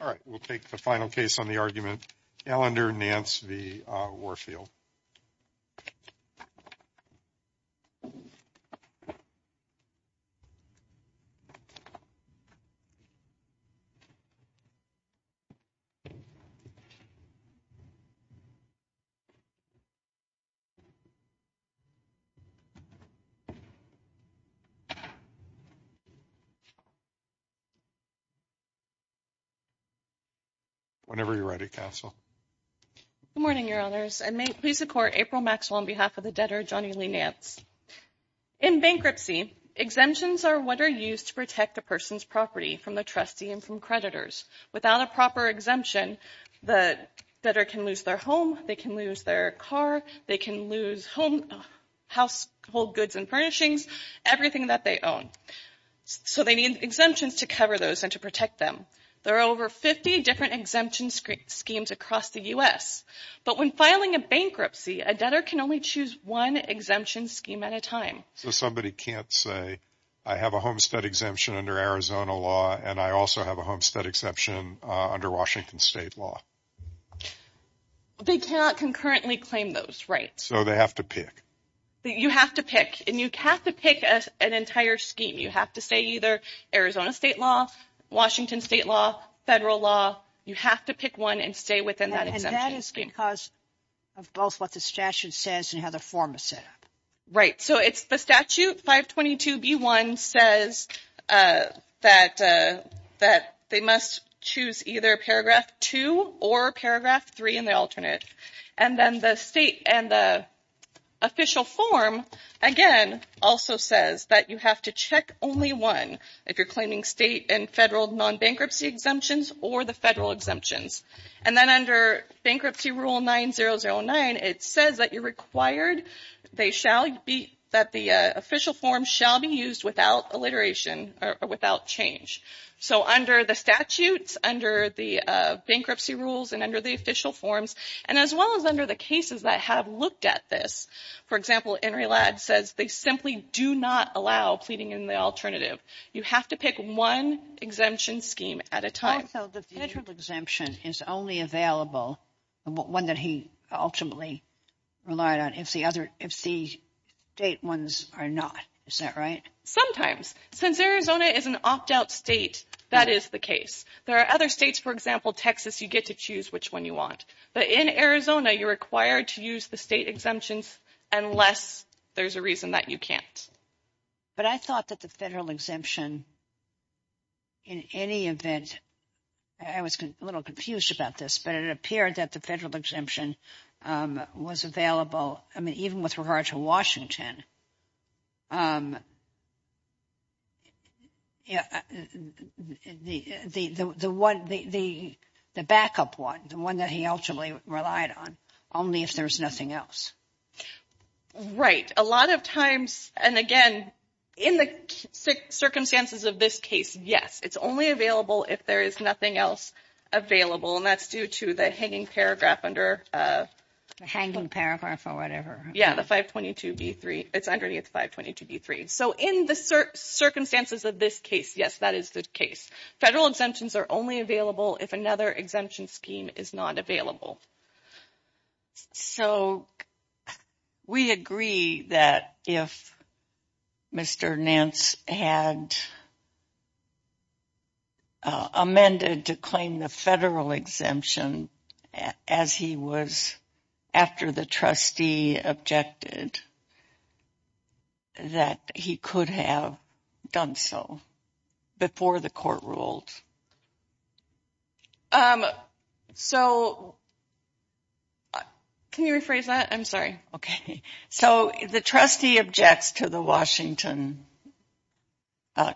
All right, we'll take the final case on the argument, Ellender, Nance v. Warfield. Whenever you're ready, Castle. Good morning, Your Honors, and may it please the Court, April Maxwell on behalf of the debtor Johnny Lee Nance. In bankruptcy, exemptions are what are used to protect a person's property from the trustee and from creditors. Without a proper exemption, the debtor can lose their home, they can lose their car, they can lose household goods and furnishings, everything that they own. So they need exemptions to cover those and to protect them. There are over 50 different exemption schemes across the U.S. But when filing a bankruptcy, a debtor can only choose one exemption scheme at a time. So somebody can't say, I have a homestead exemption under Arizona law and I also have a homestead exemption under Washington State law. They cannot concurrently claim those rights. So they have to pick. You have to pick. And you have to pick an entire scheme. You have to say either Arizona State law, Washington State law, federal law. You have to pick one and stay within that exemption. And that is because of both what the statute says and how the form is set up. Right. So it's the statute 522B1 says that they must choose either paragraph 2 or paragraph 3 in the alternate. And then the state and the official form, again, also says that you have to check only one. If you're claiming state and federal non-bankruptcy exemptions or the federal exemptions. And then under Bankruptcy Rule 9009, it says that you're required, they shall be, that the official form shall be used without alliteration or without change. So under the statutes, under the bankruptcy rules and under the official forms, and as well as under the cases that have looked at this. For example, NRELAD says they simply do not allow pleading in the alternative. You have to pick one exemption scheme at a time. Also, the federal exemption is only available, one that he ultimately relied on, if the state ones are not. Is that right? Sometimes. Since Arizona is an opt-out state, that is the case. There are other states, for example, Texas, you get to choose which one you want. But in Arizona, you're required to use the state exemptions unless there's a reason that you can't. But I thought that the federal exemption, in any event, I was a little confused about this, but it appeared that the federal exemption was available. I mean, even with regard to Washington, the backup one, the one that he ultimately relied on, only if there's nothing else. Right. A lot of times, and again, in the circumstances of this case, yes, it's only available if there is nothing else available. And that's due to the hanging paragraph under. The hanging paragraph or whatever. Yeah, the 522B3. It's underneath 522B3. So in the circumstances of this case, yes, that is the case. Federal exemptions are only available if another exemption scheme is not available. So we agree that if Mr. Nance had amended to claim the federal exemption as he was after the trustee objected, that he could have done so before the court ruled. So can you rephrase that? I'm sorry. Okay. So the trustee objects to the Washington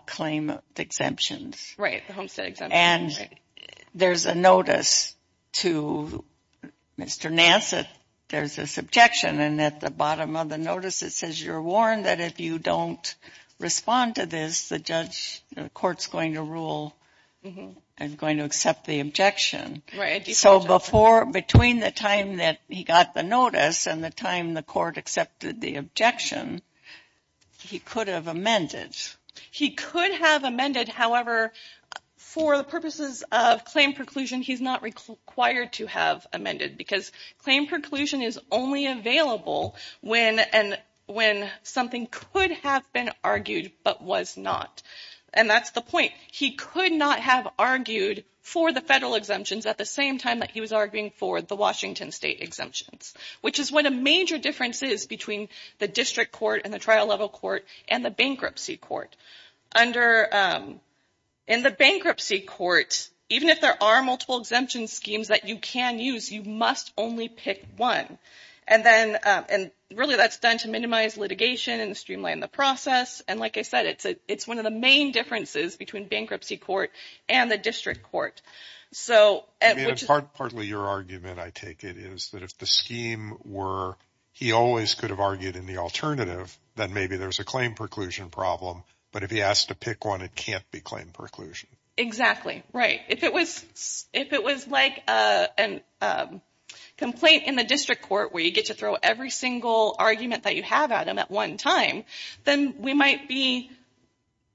claim of exemptions. Right, the Homestead exemption. And there's a notice to Mr. Nance that there's this objection. And at the bottom of the notice, it says you're warned that if you don't respond to this, the judge, the court's going to rule and going to accept the objection. Right. So between the time that he got the notice and the time the court accepted the objection, he could have amended. He could have amended. However, for the purposes of claim preclusion, he's not required to have amended because claim preclusion is only available when something could have been argued but was not. And that's the point. He could not have argued for the federal exemptions at the same time that he was arguing for the Washington state exemptions. Which is what a major difference is between the district court and the trial level court and the bankruptcy court. In the bankruptcy court, even if there are multiple exemption schemes that you can use, you must only pick one. And really that's done to minimize litigation and streamline the process. And like I said, it's one of the main differences between bankruptcy court and the district court. Partly your argument, I take it, is that if the scheme were he always could have argued in the alternative, then maybe there's a claim preclusion problem. But if he has to pick one, it can't be claim preclusion. Exactly right. If it was like a complaint in the district court where you get to throw every single argument that you have at him at one time, then we might be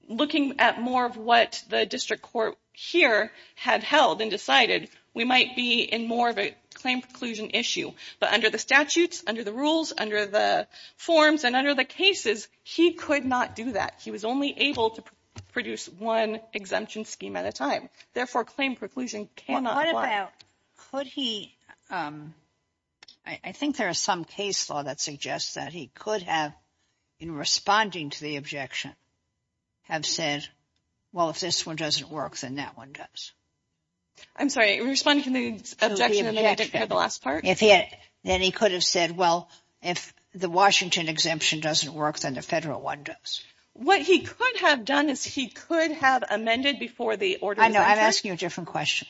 looking at more of what the district court here had held and decided. We might be in more of a claim preclusion issue. But under the statutes, under the rules, under the forms, and under the cases, he could not do that. He was only able to produce one exemption scheme at a time. Therefore, claim preclusion cannot apply. What about, could he, I think there is some case law that suggests that he could have, in responding to the objection, have said, well, if this one doesn't work, then that one does. I'm sorry, in responding to the objection in the last part? Then he could have said, well, if the Washington exemption doesn't work, then the federal one does. What he could have done is he could have amended before the order was objected. I know. I'm asking you a different question.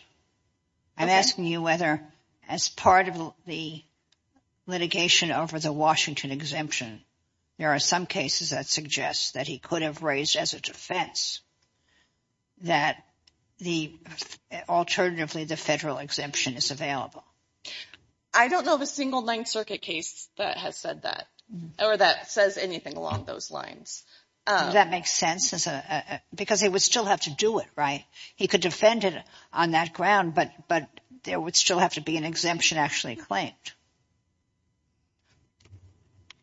I'm asking you whether, as part of the litigation over the Washington exemption, there are some cases that suggest that he could have raised as a defense that the, alternatively, the federal exemption is available. I don't know of a single Ninth Circuit case that has said that, or that says anything along those lines. Does that make sense? Because he would still have to do it, right? He could defend it on that ground, but there would still have to be an exemption actually claimed.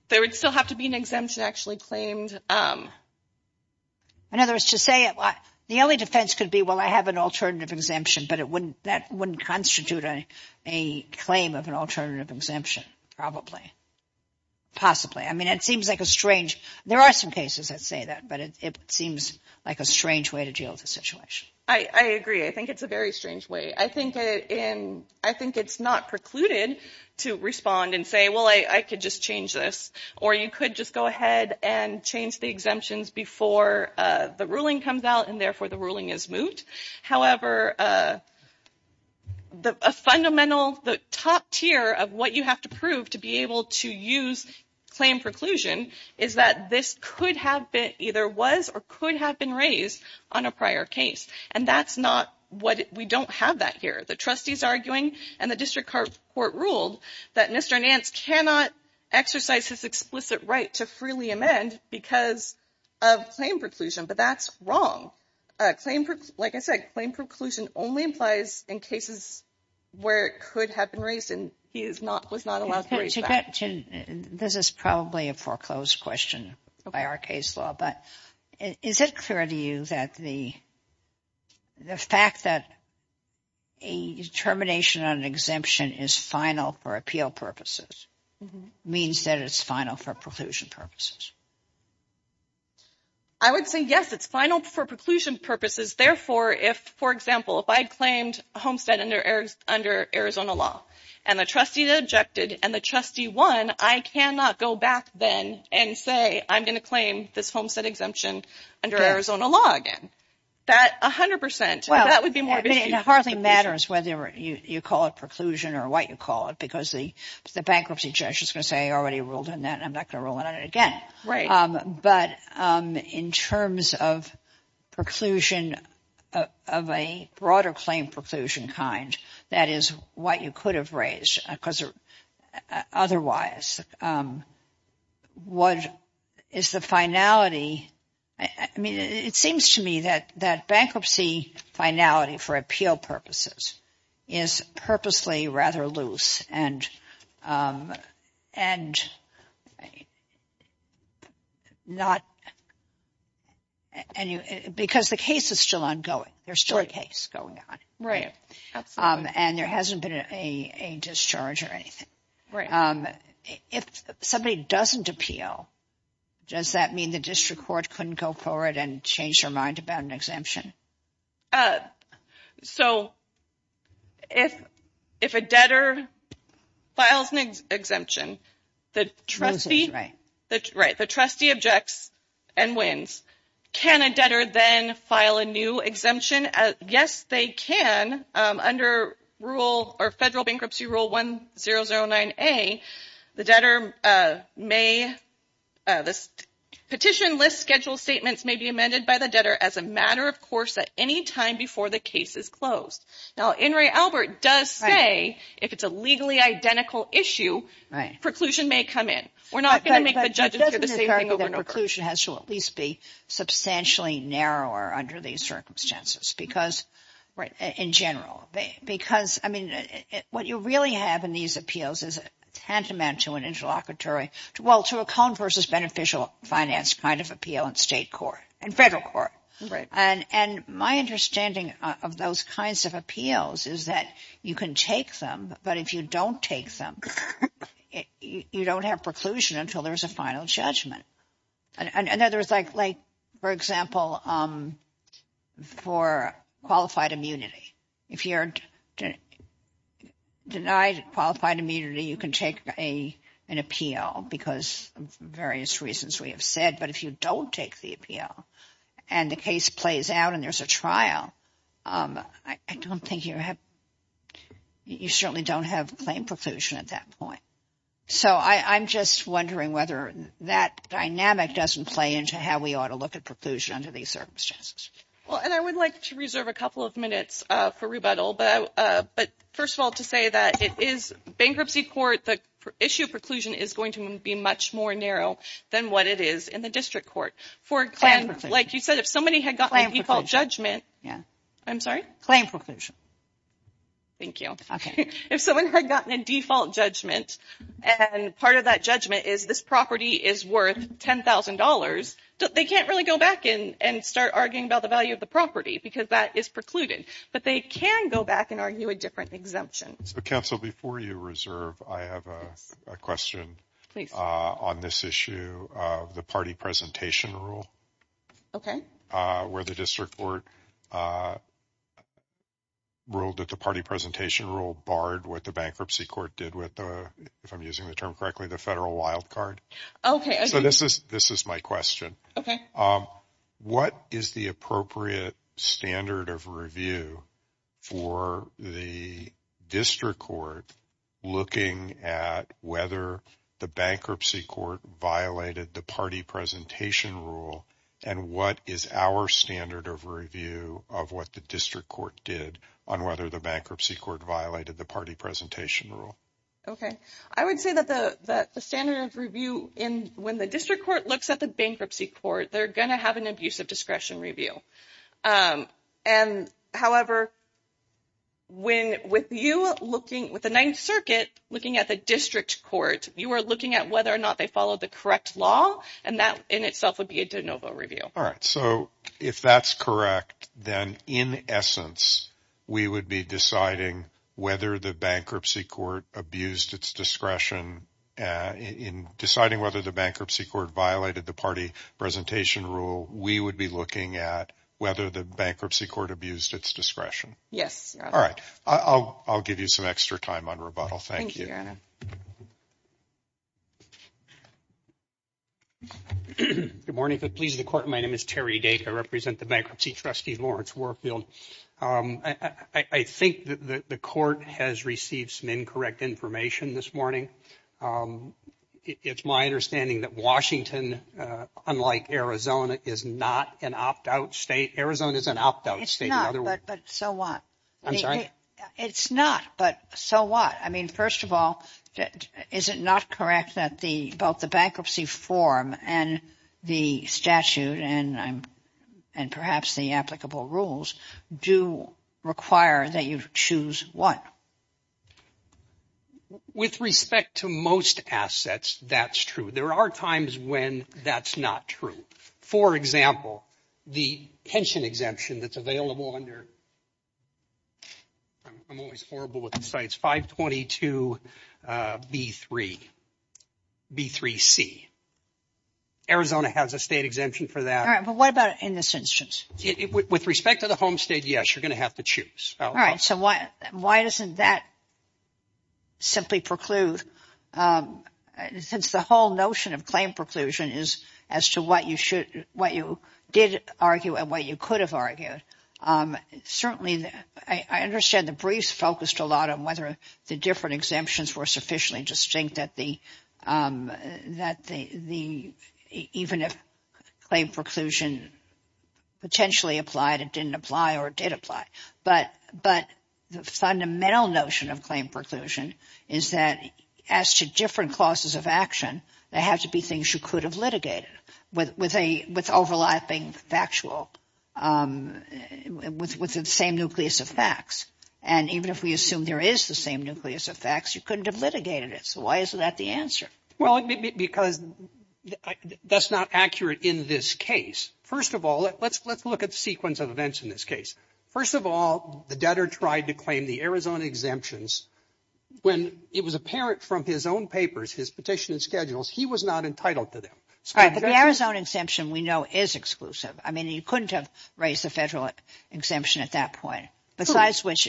There would still have to be an exemption actually claimed. In other words, to say, the only defense could be, well, I have an alternative exemption, but that wouldn't constitute a claim of an alternative exemption, probably, possibly. I mean, it seems like a strange, there are some cases that say that, but it seems like a strange way to deal with the situation. I agree. I think it's a very strange way. I think it's not precluded to respond and say, well, I could just change this. Or you could just go ahead and change the exemptions before the ruling comes out, and therefore the ruling is moved. However, a fundamental, the top tier of what you have to prove to be able to use claim preclusion is that this could have been, either was or could have been raised on a prior case. And that's not what, we don't have that here. The trustees are arguing, and the district court ruled, that Mr. Nance cannot exercise his explicit right to freely amend because of claim preclusion. But that's wrong. Like I said, claim preclusion only applies in cases where it could have been raised and he was not allowed to raise that. This is probably a foreclosed question by our case law. But is it clear to you that the fact that a termination on an exemption is final for appeal purposes means that it's final for preclusion purposes? I would say, yes, it's final for preclusion purposes. Therefore, if, for example, if I claimed homestead under Arizona law, and the trustee objected, and the trustee won, I cannot go back then and say, I'm going to claim this homestead exemption under Arizona law again. That 100%, that would be more. It hardly matters whether you call it preclusion or what you call it, because the bankruptcy judge is going to say he already ruled on that, and I'm not going to rule on it again. Right. But in terms of preclusion of a broader claim preclusion kind, that is what you could have raised, because otherwise, what is the finality? I mean, it seems to me that bankruptcy finality for appeal purposes is purposely rather loose and not, because the case is still ongoing. There's still a case going on. And there hasn't been a discharge or anything. Right. If somebody doesn't appeal, does that mean the district court couldn't go forward and change their mind about an exemption? So, if a debtor files an exemption, the trustee objects and wins. Can a debtor then file a new exemption? Yes, they can. Under Federal Bankruptcy Rule 1009A, the petition list schedule statements may be amended by the debtor as a matter of course at any time before the case is closed. Now, In re Albert does say, if it's a legally identical issue, preclusion may come in. We're not going to make the judges hear the same thing over and over. It doesn't occur to me that preclusion has to at least be substantially narrower under these circumstances because, in general. Because, I mean, what you really have in these appeals is a tantamount to an interlocutory, well, to a cone versus beneficial finance kind of appeal in state court and federal court. Right. And my understanding of those kinds of appeals is that you can take them, but if you don't take them, you don't have preclusion until there's a final judgment. And there's like, for example, for qualified immunity, if you're denied qualified immunity, you can take an appeal because of various reasons we have said. But if you don't take the appeal and the case plays out and there's a trial, I don't think you have, you certainly don't have claim preclusion at that point. So I'm just wondering whether that dynamic doesn't play into how we ought to look at preclusion under these circumstances. Well, and I would like to reserve a couple of minutes for rebuttal. But first of all, to say that it is bankruptcy court, the issue of preclusion is going to be much more narrow than what it is in the district court. For a claim, like you said, if somebody had gotten a default judgment. Yeah. I'm sorry? Claim preclusion. Thank you. Okay. If someone had gotten a default judgment and part of that judgment is this property is worth $10,000, they can't really go back and start arguing about the value of the property because that is precluded. But they can go back and argue a different exemption. Counsel, before you reserve, I have a question on this issue of the party presentation rule. Okay. Where the district court ruled that the party presentation rule barred what the bankruptcy court did with the, if I'm using the term correctly, the federal wild card. Okay. So this is my question. Okay. What is the appropriate standard of review for the district court looking at whether the bankruptcy court violated the party presentation rule? And what is our standard of review of what the district court did on whether the bankruptcy court violated the party presentation rule? Okay. I would say that the standard of review when the district court looks at the bankruptcy court, they're going to have an abusive discretion review. However, when with you looking, with the Ninth Circuit looking at the district court, you are looking at whether or not they follow the correct law, and that in itself would be a de novo review. So if that's correct, then in essence, we would be deciding whether the bankruptcy court abused its discretion in deciding whether the bankruptcy court violated the party presentation rule, we would be looking at whether the bankruptcy court abused its discretion. Yes. All right. I'll give you some extra time on rebuttal. Thank you. Thank you, Your Honor. Good morning. If it pleases the court, my name is Terry Dacre. I represent the bankruptcy trustee, Lawrence Warfield. I think that the court has received some incorrect information this morning. It's my understanding that Washington, unlike Arizona, is not an opt-out state. Arizona is an opt-out state. It's not, but so what? I'm sorry? It's not, but so what? I mean, first of all, is it not correct that both the bankruptcy form and the statute and perhaps the applicable rules do require that you choose one? With respect to most assets, that's true. There are times when that's not true. For example, the pension exemption that's available under, I'm always horrible with the sites, 522B3C. Arizona has a state exemption for that. All right. But what about in this instance? With respect to the home state, yes, you're going to have to choose. All right. So why doesn't that simply preclude, since the whole notion of claim preclusion is as to what you did argue and what you could have argued, certainly I understand the briefs focused a lot on whether the different exemptions were sufficiently distinct that even if claim preclusion potentially applied, it didn't apply or it did apply. But the fundamental notion of claim preclusion is that as to different clauses of action, they have to be things you could have litigated with overlapping factual, with the same nucleus of facts. And even if we assume there is the same nucleus of facts, you couldn't have litigated it. So why isn't that the answer? Well, because that's not accurate in this case. First of all, let's look at the sequence of events in this case. First of all, the debtor tried to claim the Arizona exemptions when it was apparent from his own papers, his petition and schedules, he was not entitled to them. All right. But the Arizona exemption we know is exclusive. I mean, he couldn't have raised the federal exemption at that point. Besides which,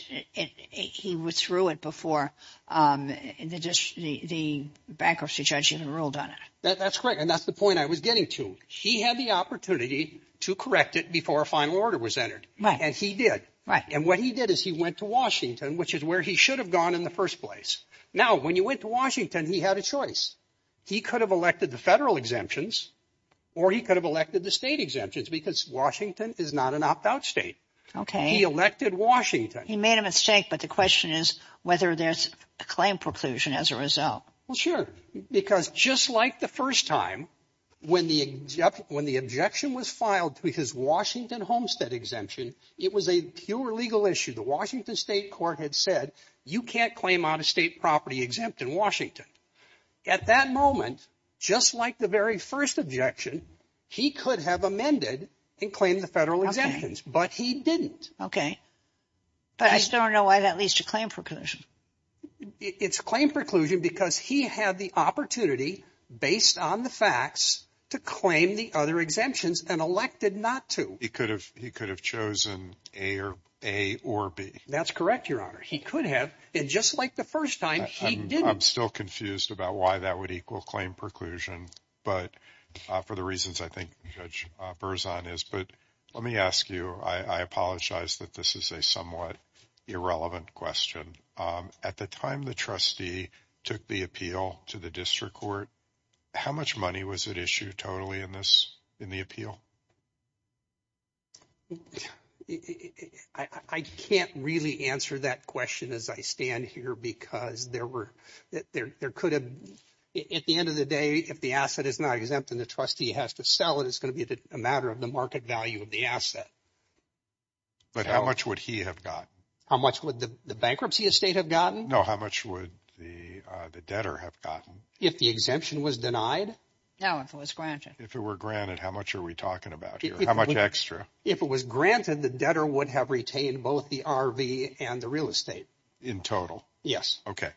he withdrew it before the bankruptcy judge even ruled on it. That's correct. And that's the point I was getting to. He had the opportunity to correct it before a final order was entered. Right. And he did. Right. And what he did is he went to Washington, which is where he should have gone in the first place. Now, when you went to Washington, he had a choice. He could have elected the federal exemptions or he could have elected the state exemptions because Washington is not an opt-out state. Okay. He elected Washington. He made a mistake, but the question is whether there's a claim preclusion as a result. Well, sure, because just like the first time when the objection was filed to his Washington homestead exemption, it was a pure legal issue. The Washington state court had said you can't claim out a state property exempt in Washington. At that moment, just like the very first objection, he could have amended and claimed the federal exemptions, but he didn't. Okay. But I still don't know why that leads to claim preclusion. It's a claim preclusion because he had the opportunity, based on the facts, to claim the other exemptions and elected not to. He could have chosen A or B. That's correct, Your Honor. He could have. And just like the first time, he didn't. I'm still confused about why that would equal claim preclusion, but for the reasons I think Judge Verzon is. But let me ask you, I apologize that this is a somewhat irrelevant question. At the time the trustee took the appeal to the district court, how much money was at issue totally in this in the appeal? I can't really answer that question as I stand here because there were there could have at the end of the day, if the asset is not exempt and the trustee has to sell it, it's going to be a matter of the market value of the asset. But how much would he have gotten? How much would the bankruptcy estate have gotten? No, how much would the debtor have gotten? If the exemption was denied? No, if it was granted. If it were granted, how much are we talking about here? How much extra? If it was granted, the debtor would have retained both the RV and the real estate. In total? Yes. Okay.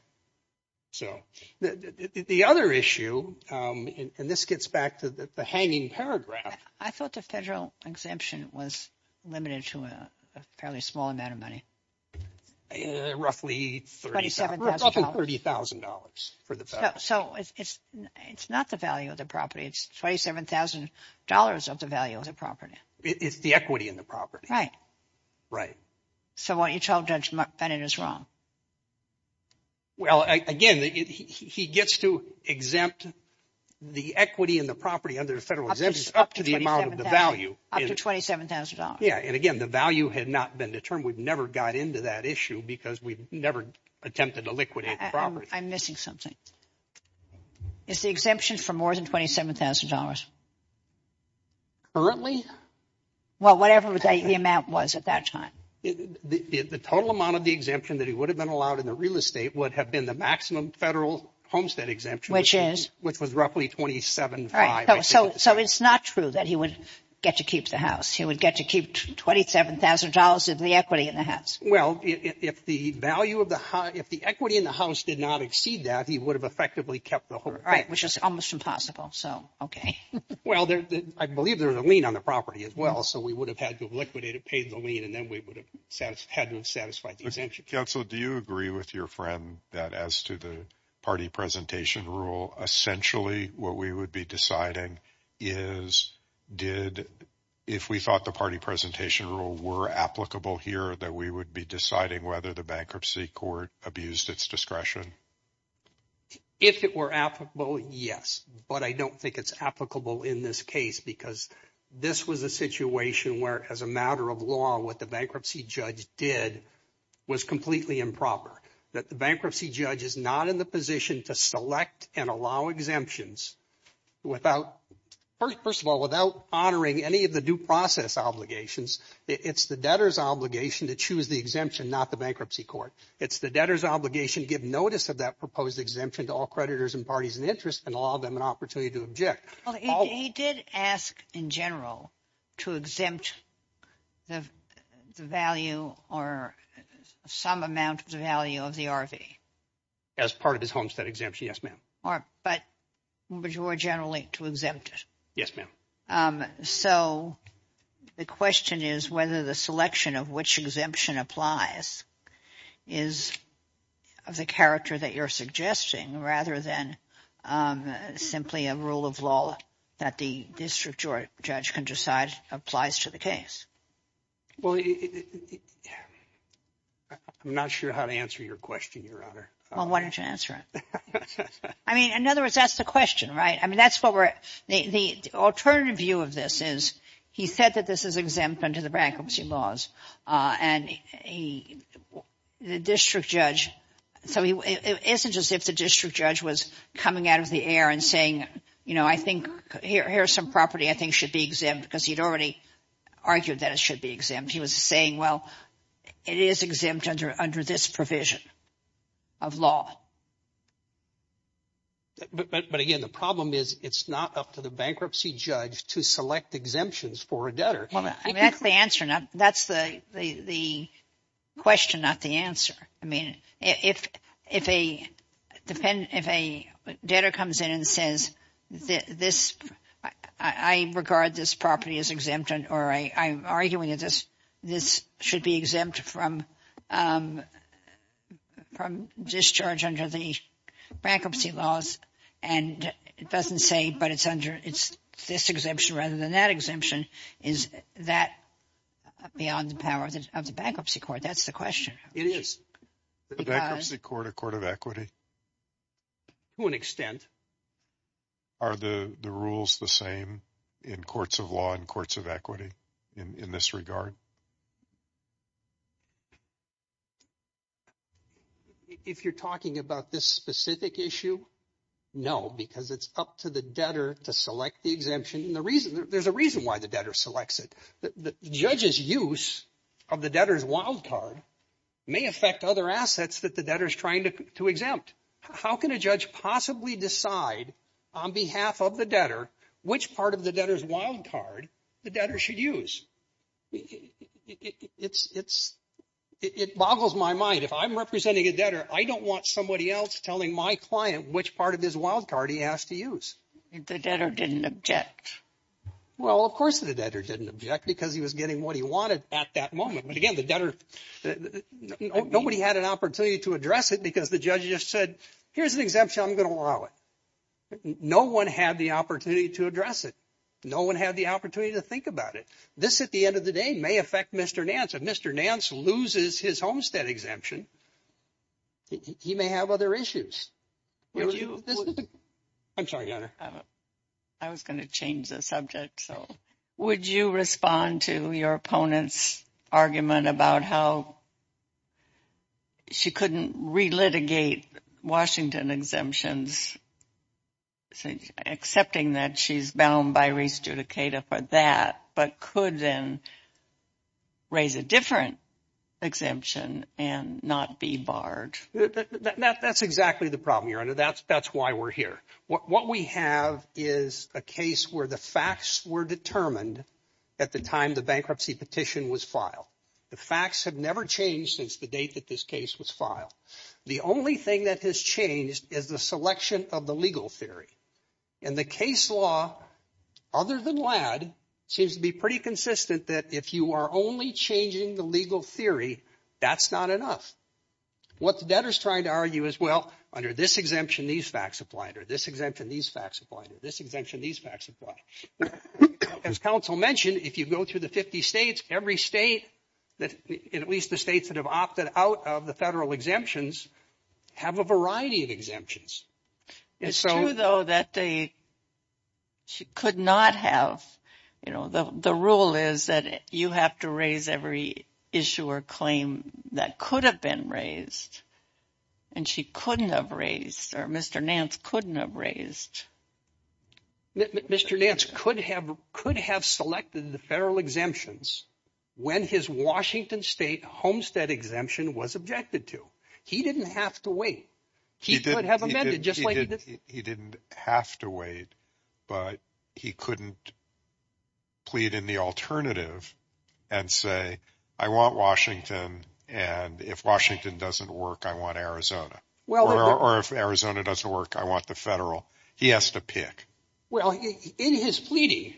So the other issue, and this gets back to the hanging paragraph. I thought the federal exemption was limited to a fairly small amount of money. Roughly $30,000 for the federal. So it's not the value of the property. It's $27,000 of the value of the property. It's the equity in the property. Right. Right. So what you told Judge Bennett is wrong. Well, again, he gets to exempt the equity in the property under the federal exemption up to the amount of the value. Up to $27,000. Yes. And, again, the value had not been determined. We've never got into that issue because we've never attempted to liquidate the property. I'm missing something. It's the exemption for more than $27,000. Currently? Well, whatever the amount was at that time. The total amount of the exemption that he would have been allowed in the real estate would have been the maximum federal homestead exemption. Which is? Which was roughly $27,500. So it's not true that he would get to keep the house. He would get to keep $27,000 of the equity in the house. Well, if the value of the house, if the equity in the house did not exceed that, he would have effectively kept the whole thing. Right, which is almost impossible. So, okay. Well, I believe there was a lien on the property as well. So we would have had to have liquidated, paid the lien, and then we would have had to have satisfied the exemption. Counsel, do you agree with your friend that as to the party presentation rule, essentially what we would be deciding is did, if we thought the party presentation rule were applicable here, that we would be deciding whether the bankruptcy court abused its discretion? If it were applicable, yes. But I don't think it's applicable in this case because this was a situation where, as a matter of law, what the bankruptcy judge did was completely improper, that the bankruptcy judge is not in the position to select and allow exemptions without, first of all, without honoring any of the due process obligations. It's the debtor's obligation to choose the exemption, not the bankruptcy court. It's the debtor's obligation to give notice of that proposed exemption to all creditors and parties in interest and allow them an opportunity to object. He did ask, in general, to exempt the value or some amount of the value of the RV. As part of his homestead exemption, yes, ma'am. But more generally, to exempt it. Yes, ma'am. So the question is whether the selection of which exemption applies is of the character that you're suggesting rather than simply a rule of law that the district judge can decide applies to the case. Well, I'm not sure how to answer your question, Your Honor. Well, why don't you answer it? I mean, in other words, that's the question, right? I mean, that's what we're – the alternative view of this is he said that this is exempt under the bankruptcy laws, and the district judge – so it isn't just if the district judge was coming out of the air and saying, you know, I think here's some property I think should be exempt because he'd already argued that it should be exempt. He was saying, well, it is exempt under this provision of law. But, again, the problem is it's not up to the bankruptcy judge to select exemptions for a debtor. I mean, that's the answer. That's the question, not the answer. I mean, if a debtor comes in and says this – I regard this property as exempt or I'm arguing that this should be exempt from discharge under the bankruptcy laws, and it doesn't say but it's under – it's this exemption rather than that exemption, is that beyond the power of the bankruptcy court? That's the question. It is. The bankruptcy court, a court of equity? To an extent. Are the rules the same in courts of law and courts of equity in this regard? If you're talking about this specific issue, no, because it's up to the debtor to select the exemption. There's a reason why the debtor selects it. The judge's use of the debtor's wild card may affect other assets that the debtor is trying to exempt. How can a judge possibly decide on behalf of the debtor which part of the debtor's wild card the debtor should use? It boggles my mind. If I'm representing a debtor, I don't want somebody else telling my client which part of his wild card he has to use. The debtor didn't object. Well, of course the debtor didn't object because he was getting what he wanted at that moment. Nobody had an opportunity to address it because the judge just said, here's an exemption, I'm going to allow it. No one had the opportunity to address it. No one had the opportunity to think about it. This, at the end of the day, may affect Mr. Nance. If Mr. Nance loses his homestead exemption, he may have other issues. I'm sorry, Goddard. I was going to change the subject. Would you respond to your opponent's argument about how she couldn't relitigate Washington exemptions, accepting that she's bound by res judicata for that, but could then raise a different exemption and not be barred? That's exactly the problem, Your Honor. That's why we're here. What we have is a case where the facts were determined at the time the bankruptcy petition was filed. The facts have never changed since the date that this case was filed. The only thing that has changed is the selection of the legal theory. And the case law, other than LADD, seems to be pretty consistent that if you are only changing the legal theory, that's not enough. What the debtor is trying to argue is, well, under this exemption, these facts apply, under this exemption, these facts apply, under this exemption, these facts apply. As counsel mentioned, if you go through the 50 states, every state, at least the states that have opted out of the federal exemptions, have a variety of exemptions. It's true, though, that they could not have. The rule is that you have to raise every issue or claim that could have been raised. And she couldn't have raised, or Mr. Nance couldn't have raised. Mr. Nance could have selected the federal exemptions when his Washington State homestead exemption was objected to. He didn't have to wait. He could have amended, just like he did. He didn't have to wait, but he couldn't plead in the alternative and say, I want Washington, and if Washington doesn't work, I want Arizona. Or if Arizona doesn't work, I want the federal. He has to pick. Well, in his pleading,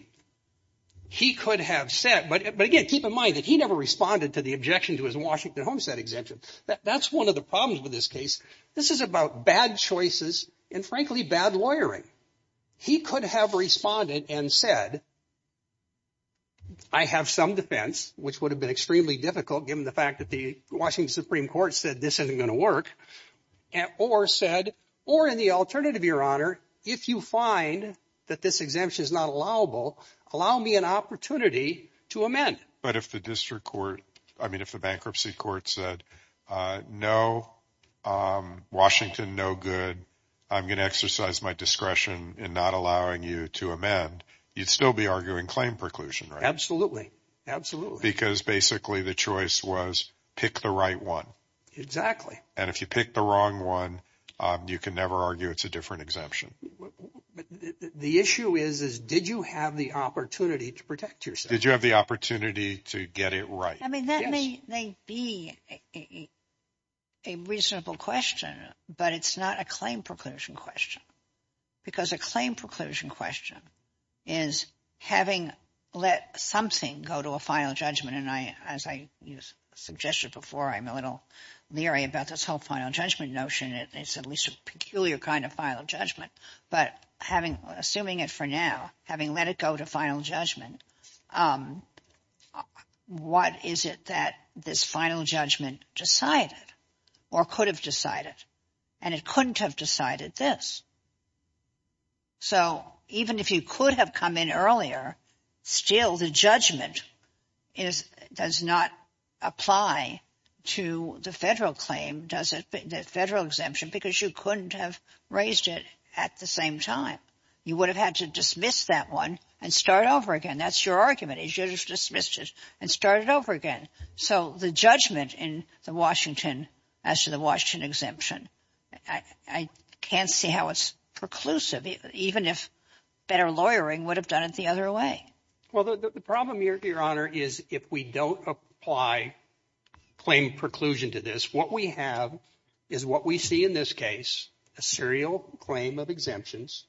he could have said, but again, keep in mind that he never responded to the objection to his Washington homestead exemption. That's one of the problems with this case. This is about bad choices and, frankly, bad lawyering. He could have responded and said. I have some defense, which would have been extremely difficult, given the fact that the Washington Supreme Court said this isn't going to work. Or said or in the alternative, your honor, if you find that this exemption is not allowable, allow me an opportunity to amend. But if the district court I mean, if the bankruptcy court said, no, Washington, no good. I'm going to exercise my discretion in not allowing you to amend. You'd still be arguing claim preclusion. Absolutely. Absolutely. Because basically the choice was pick the right one. Exactly. And if you pick the wrong one, you can never argue it's a different exemption. The issue is, is did you have the opportunity to protect yourself? Did you have the opportunity to get it right? I mean, that may be a reasonable question, but it's not a claim preclusion question. Because a claim preclusion question is having let something go to a final judgment. And I, as I suggested before, I'm a little leery about this whole final judgment notion. It's at least a peculiar kind of final judgment. But having assuming it for now, having let it go to final judgment, what is it that this final judgment decided or could have decided? And it couldn't have decided this. So even if you could have come in earlier, still the judgment is does not apply to the federal claim, does it? The federal exemption, because you couldn't have raised it at the same time. You would have had to dismiss that one and start over again. That's your argument is you just dismissed it and started over again. So the judgment in the Washington, as to the Washington exemption, I can't see how it's preclusive, even if better lawyering would have done it the other way. Well, the problem, Your Honor, is if we don't apply claim preclusion to this, what we have is what we see in this case, a serial claim of exemptions.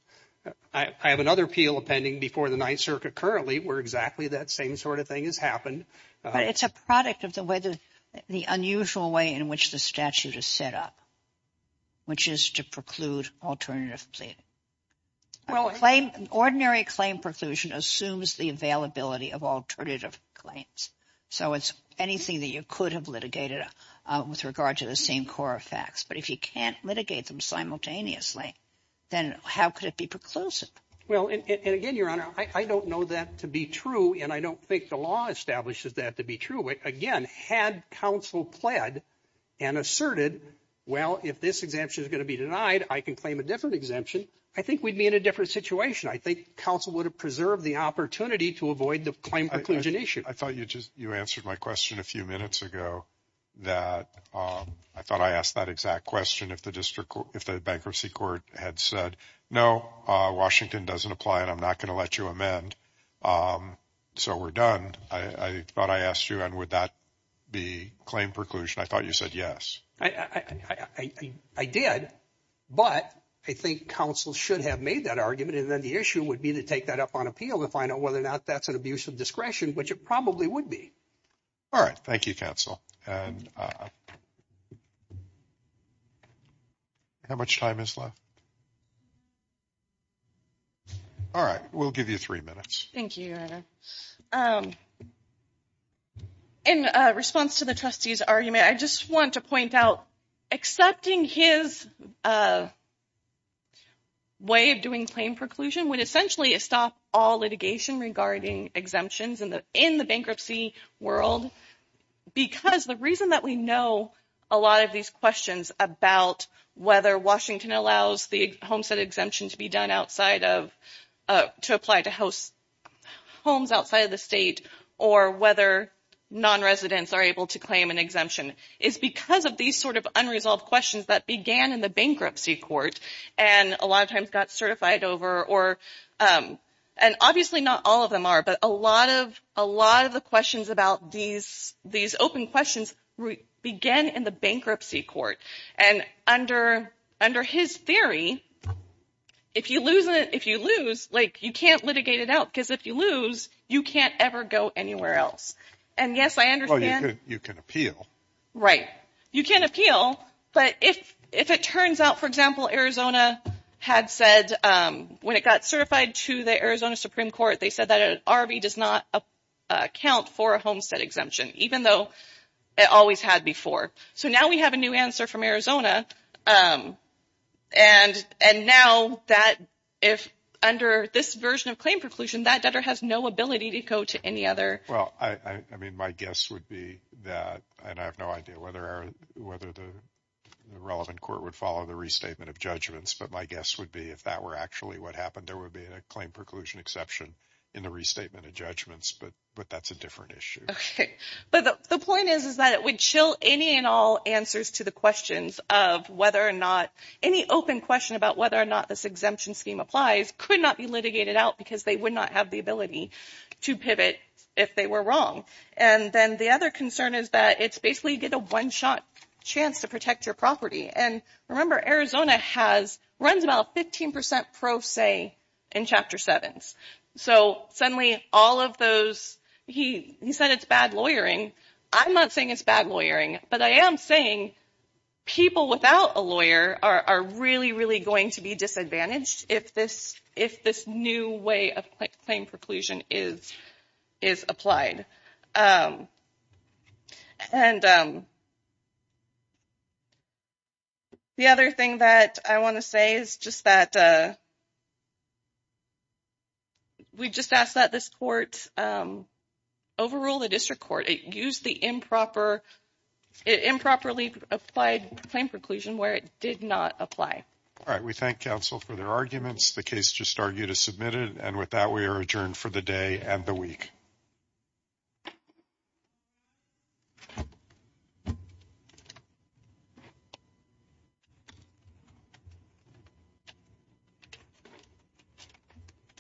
I have another appeal appending before the Ninth Circuit currently where exactly that same sort of thing has happened. But it's a product of the way that the unusual way in which the statute is set up, which is to preclude alternative plea. Well, a claim, ordinary claim preclusion assumes the availability of alternative claims. So it's anything that you could have litigated with regard to the same core facts. But if you can't litigate them simultaneously, then how could it be preclusive? Well, and again, Your Honor, I don't know that to be true. And I don't think the law establishes that to be true. Again, had counsel pled and asserted, well, if this exemption is going to be denied, I can claim a different exemption. I think we'd be in a different situation. I think counsel would have preserved the opportunity to avoid the claim preclusion issue. I thought you just you answered my question a few minutes ago that I thought I asked that exact question. If the district, if the bankruptcy court had said, no, Washington doesn't apply and I'm not going to let you amend. So we're done. I thought I asked you, and would that be claim preclusion? I thought you said yes, I did. But I think counsel should have made that argument. And then the issue would be to take that up on appeal to find out whether or not that's an abuse of discretion, which it probably would be. All right. Thank you, counsel. And how much time is left? All right. We'll give you three minutes. Thank you. In response to the trustee's argument, I just want to point out accepting his way of doing claim preclusion would essentially stop all litigation regarding exemptions in the in the bankruptcy world. Because the reason that we know a lot of these questions about whether Washington allows the homestead exemption to be done outside of to apply to house homes outside of the state or whether non-residents are able to claim an exemption is because of these sort of unresolved questions that began in the bankruptcy court. And a lot of times got certified over or and obviously not all of them are. But a lot of a lot of the questions about these these open questions began in the bankruptcy court. And under under his theory, if you lose it, if you lose like you can't litigate it out because if you lose, you can't ever go anywhere else. And yes, I understand you can appeal. Right. You can appeal. But if if it turns out, for example, Arizona had said when it got certified to the Arizona Supreme Court, they said that an RV does not account for a homestead exemption, even though it always had before. So now we have a new answer from Arizona. And and now that if under this version of claim preclusion, that debtor has no ability to go to any other. Well, I mean, my guess would be that and I have no idea whether or whether the relevant court would follow the restatement of judgments. But my guess would be if that were actually what happened, there would be a claim preclusion exception in the restatement of judgments. But but that's a different issue. But the point is, is that it would chill any and all answers to the questions of whether or not any open question about whether or not this exemption scheme applies could not be litigated out because they would not have the ability to pivot if they were wrong. And then the other concern is that it's basically get a one shot chance to protect your property. And remember, Arizona has runs about 15 percent pro se in Chapter seven. So suddenly all of those he said it's bad lawyering. I'm not saying it's bad lawyering, but I am saying people without a lawyer are really, really going to be disadvantaged if this if this new way of claim preclusion is is applied. And the other thing that I want to say is just that we just asked that this court overrule the district court. It used the improper improperly applied claim preclusion where it did not apply. All right. We thank counsel for their arguments. The case just argued is submitted. And with that, we are adjourned for the day and the week.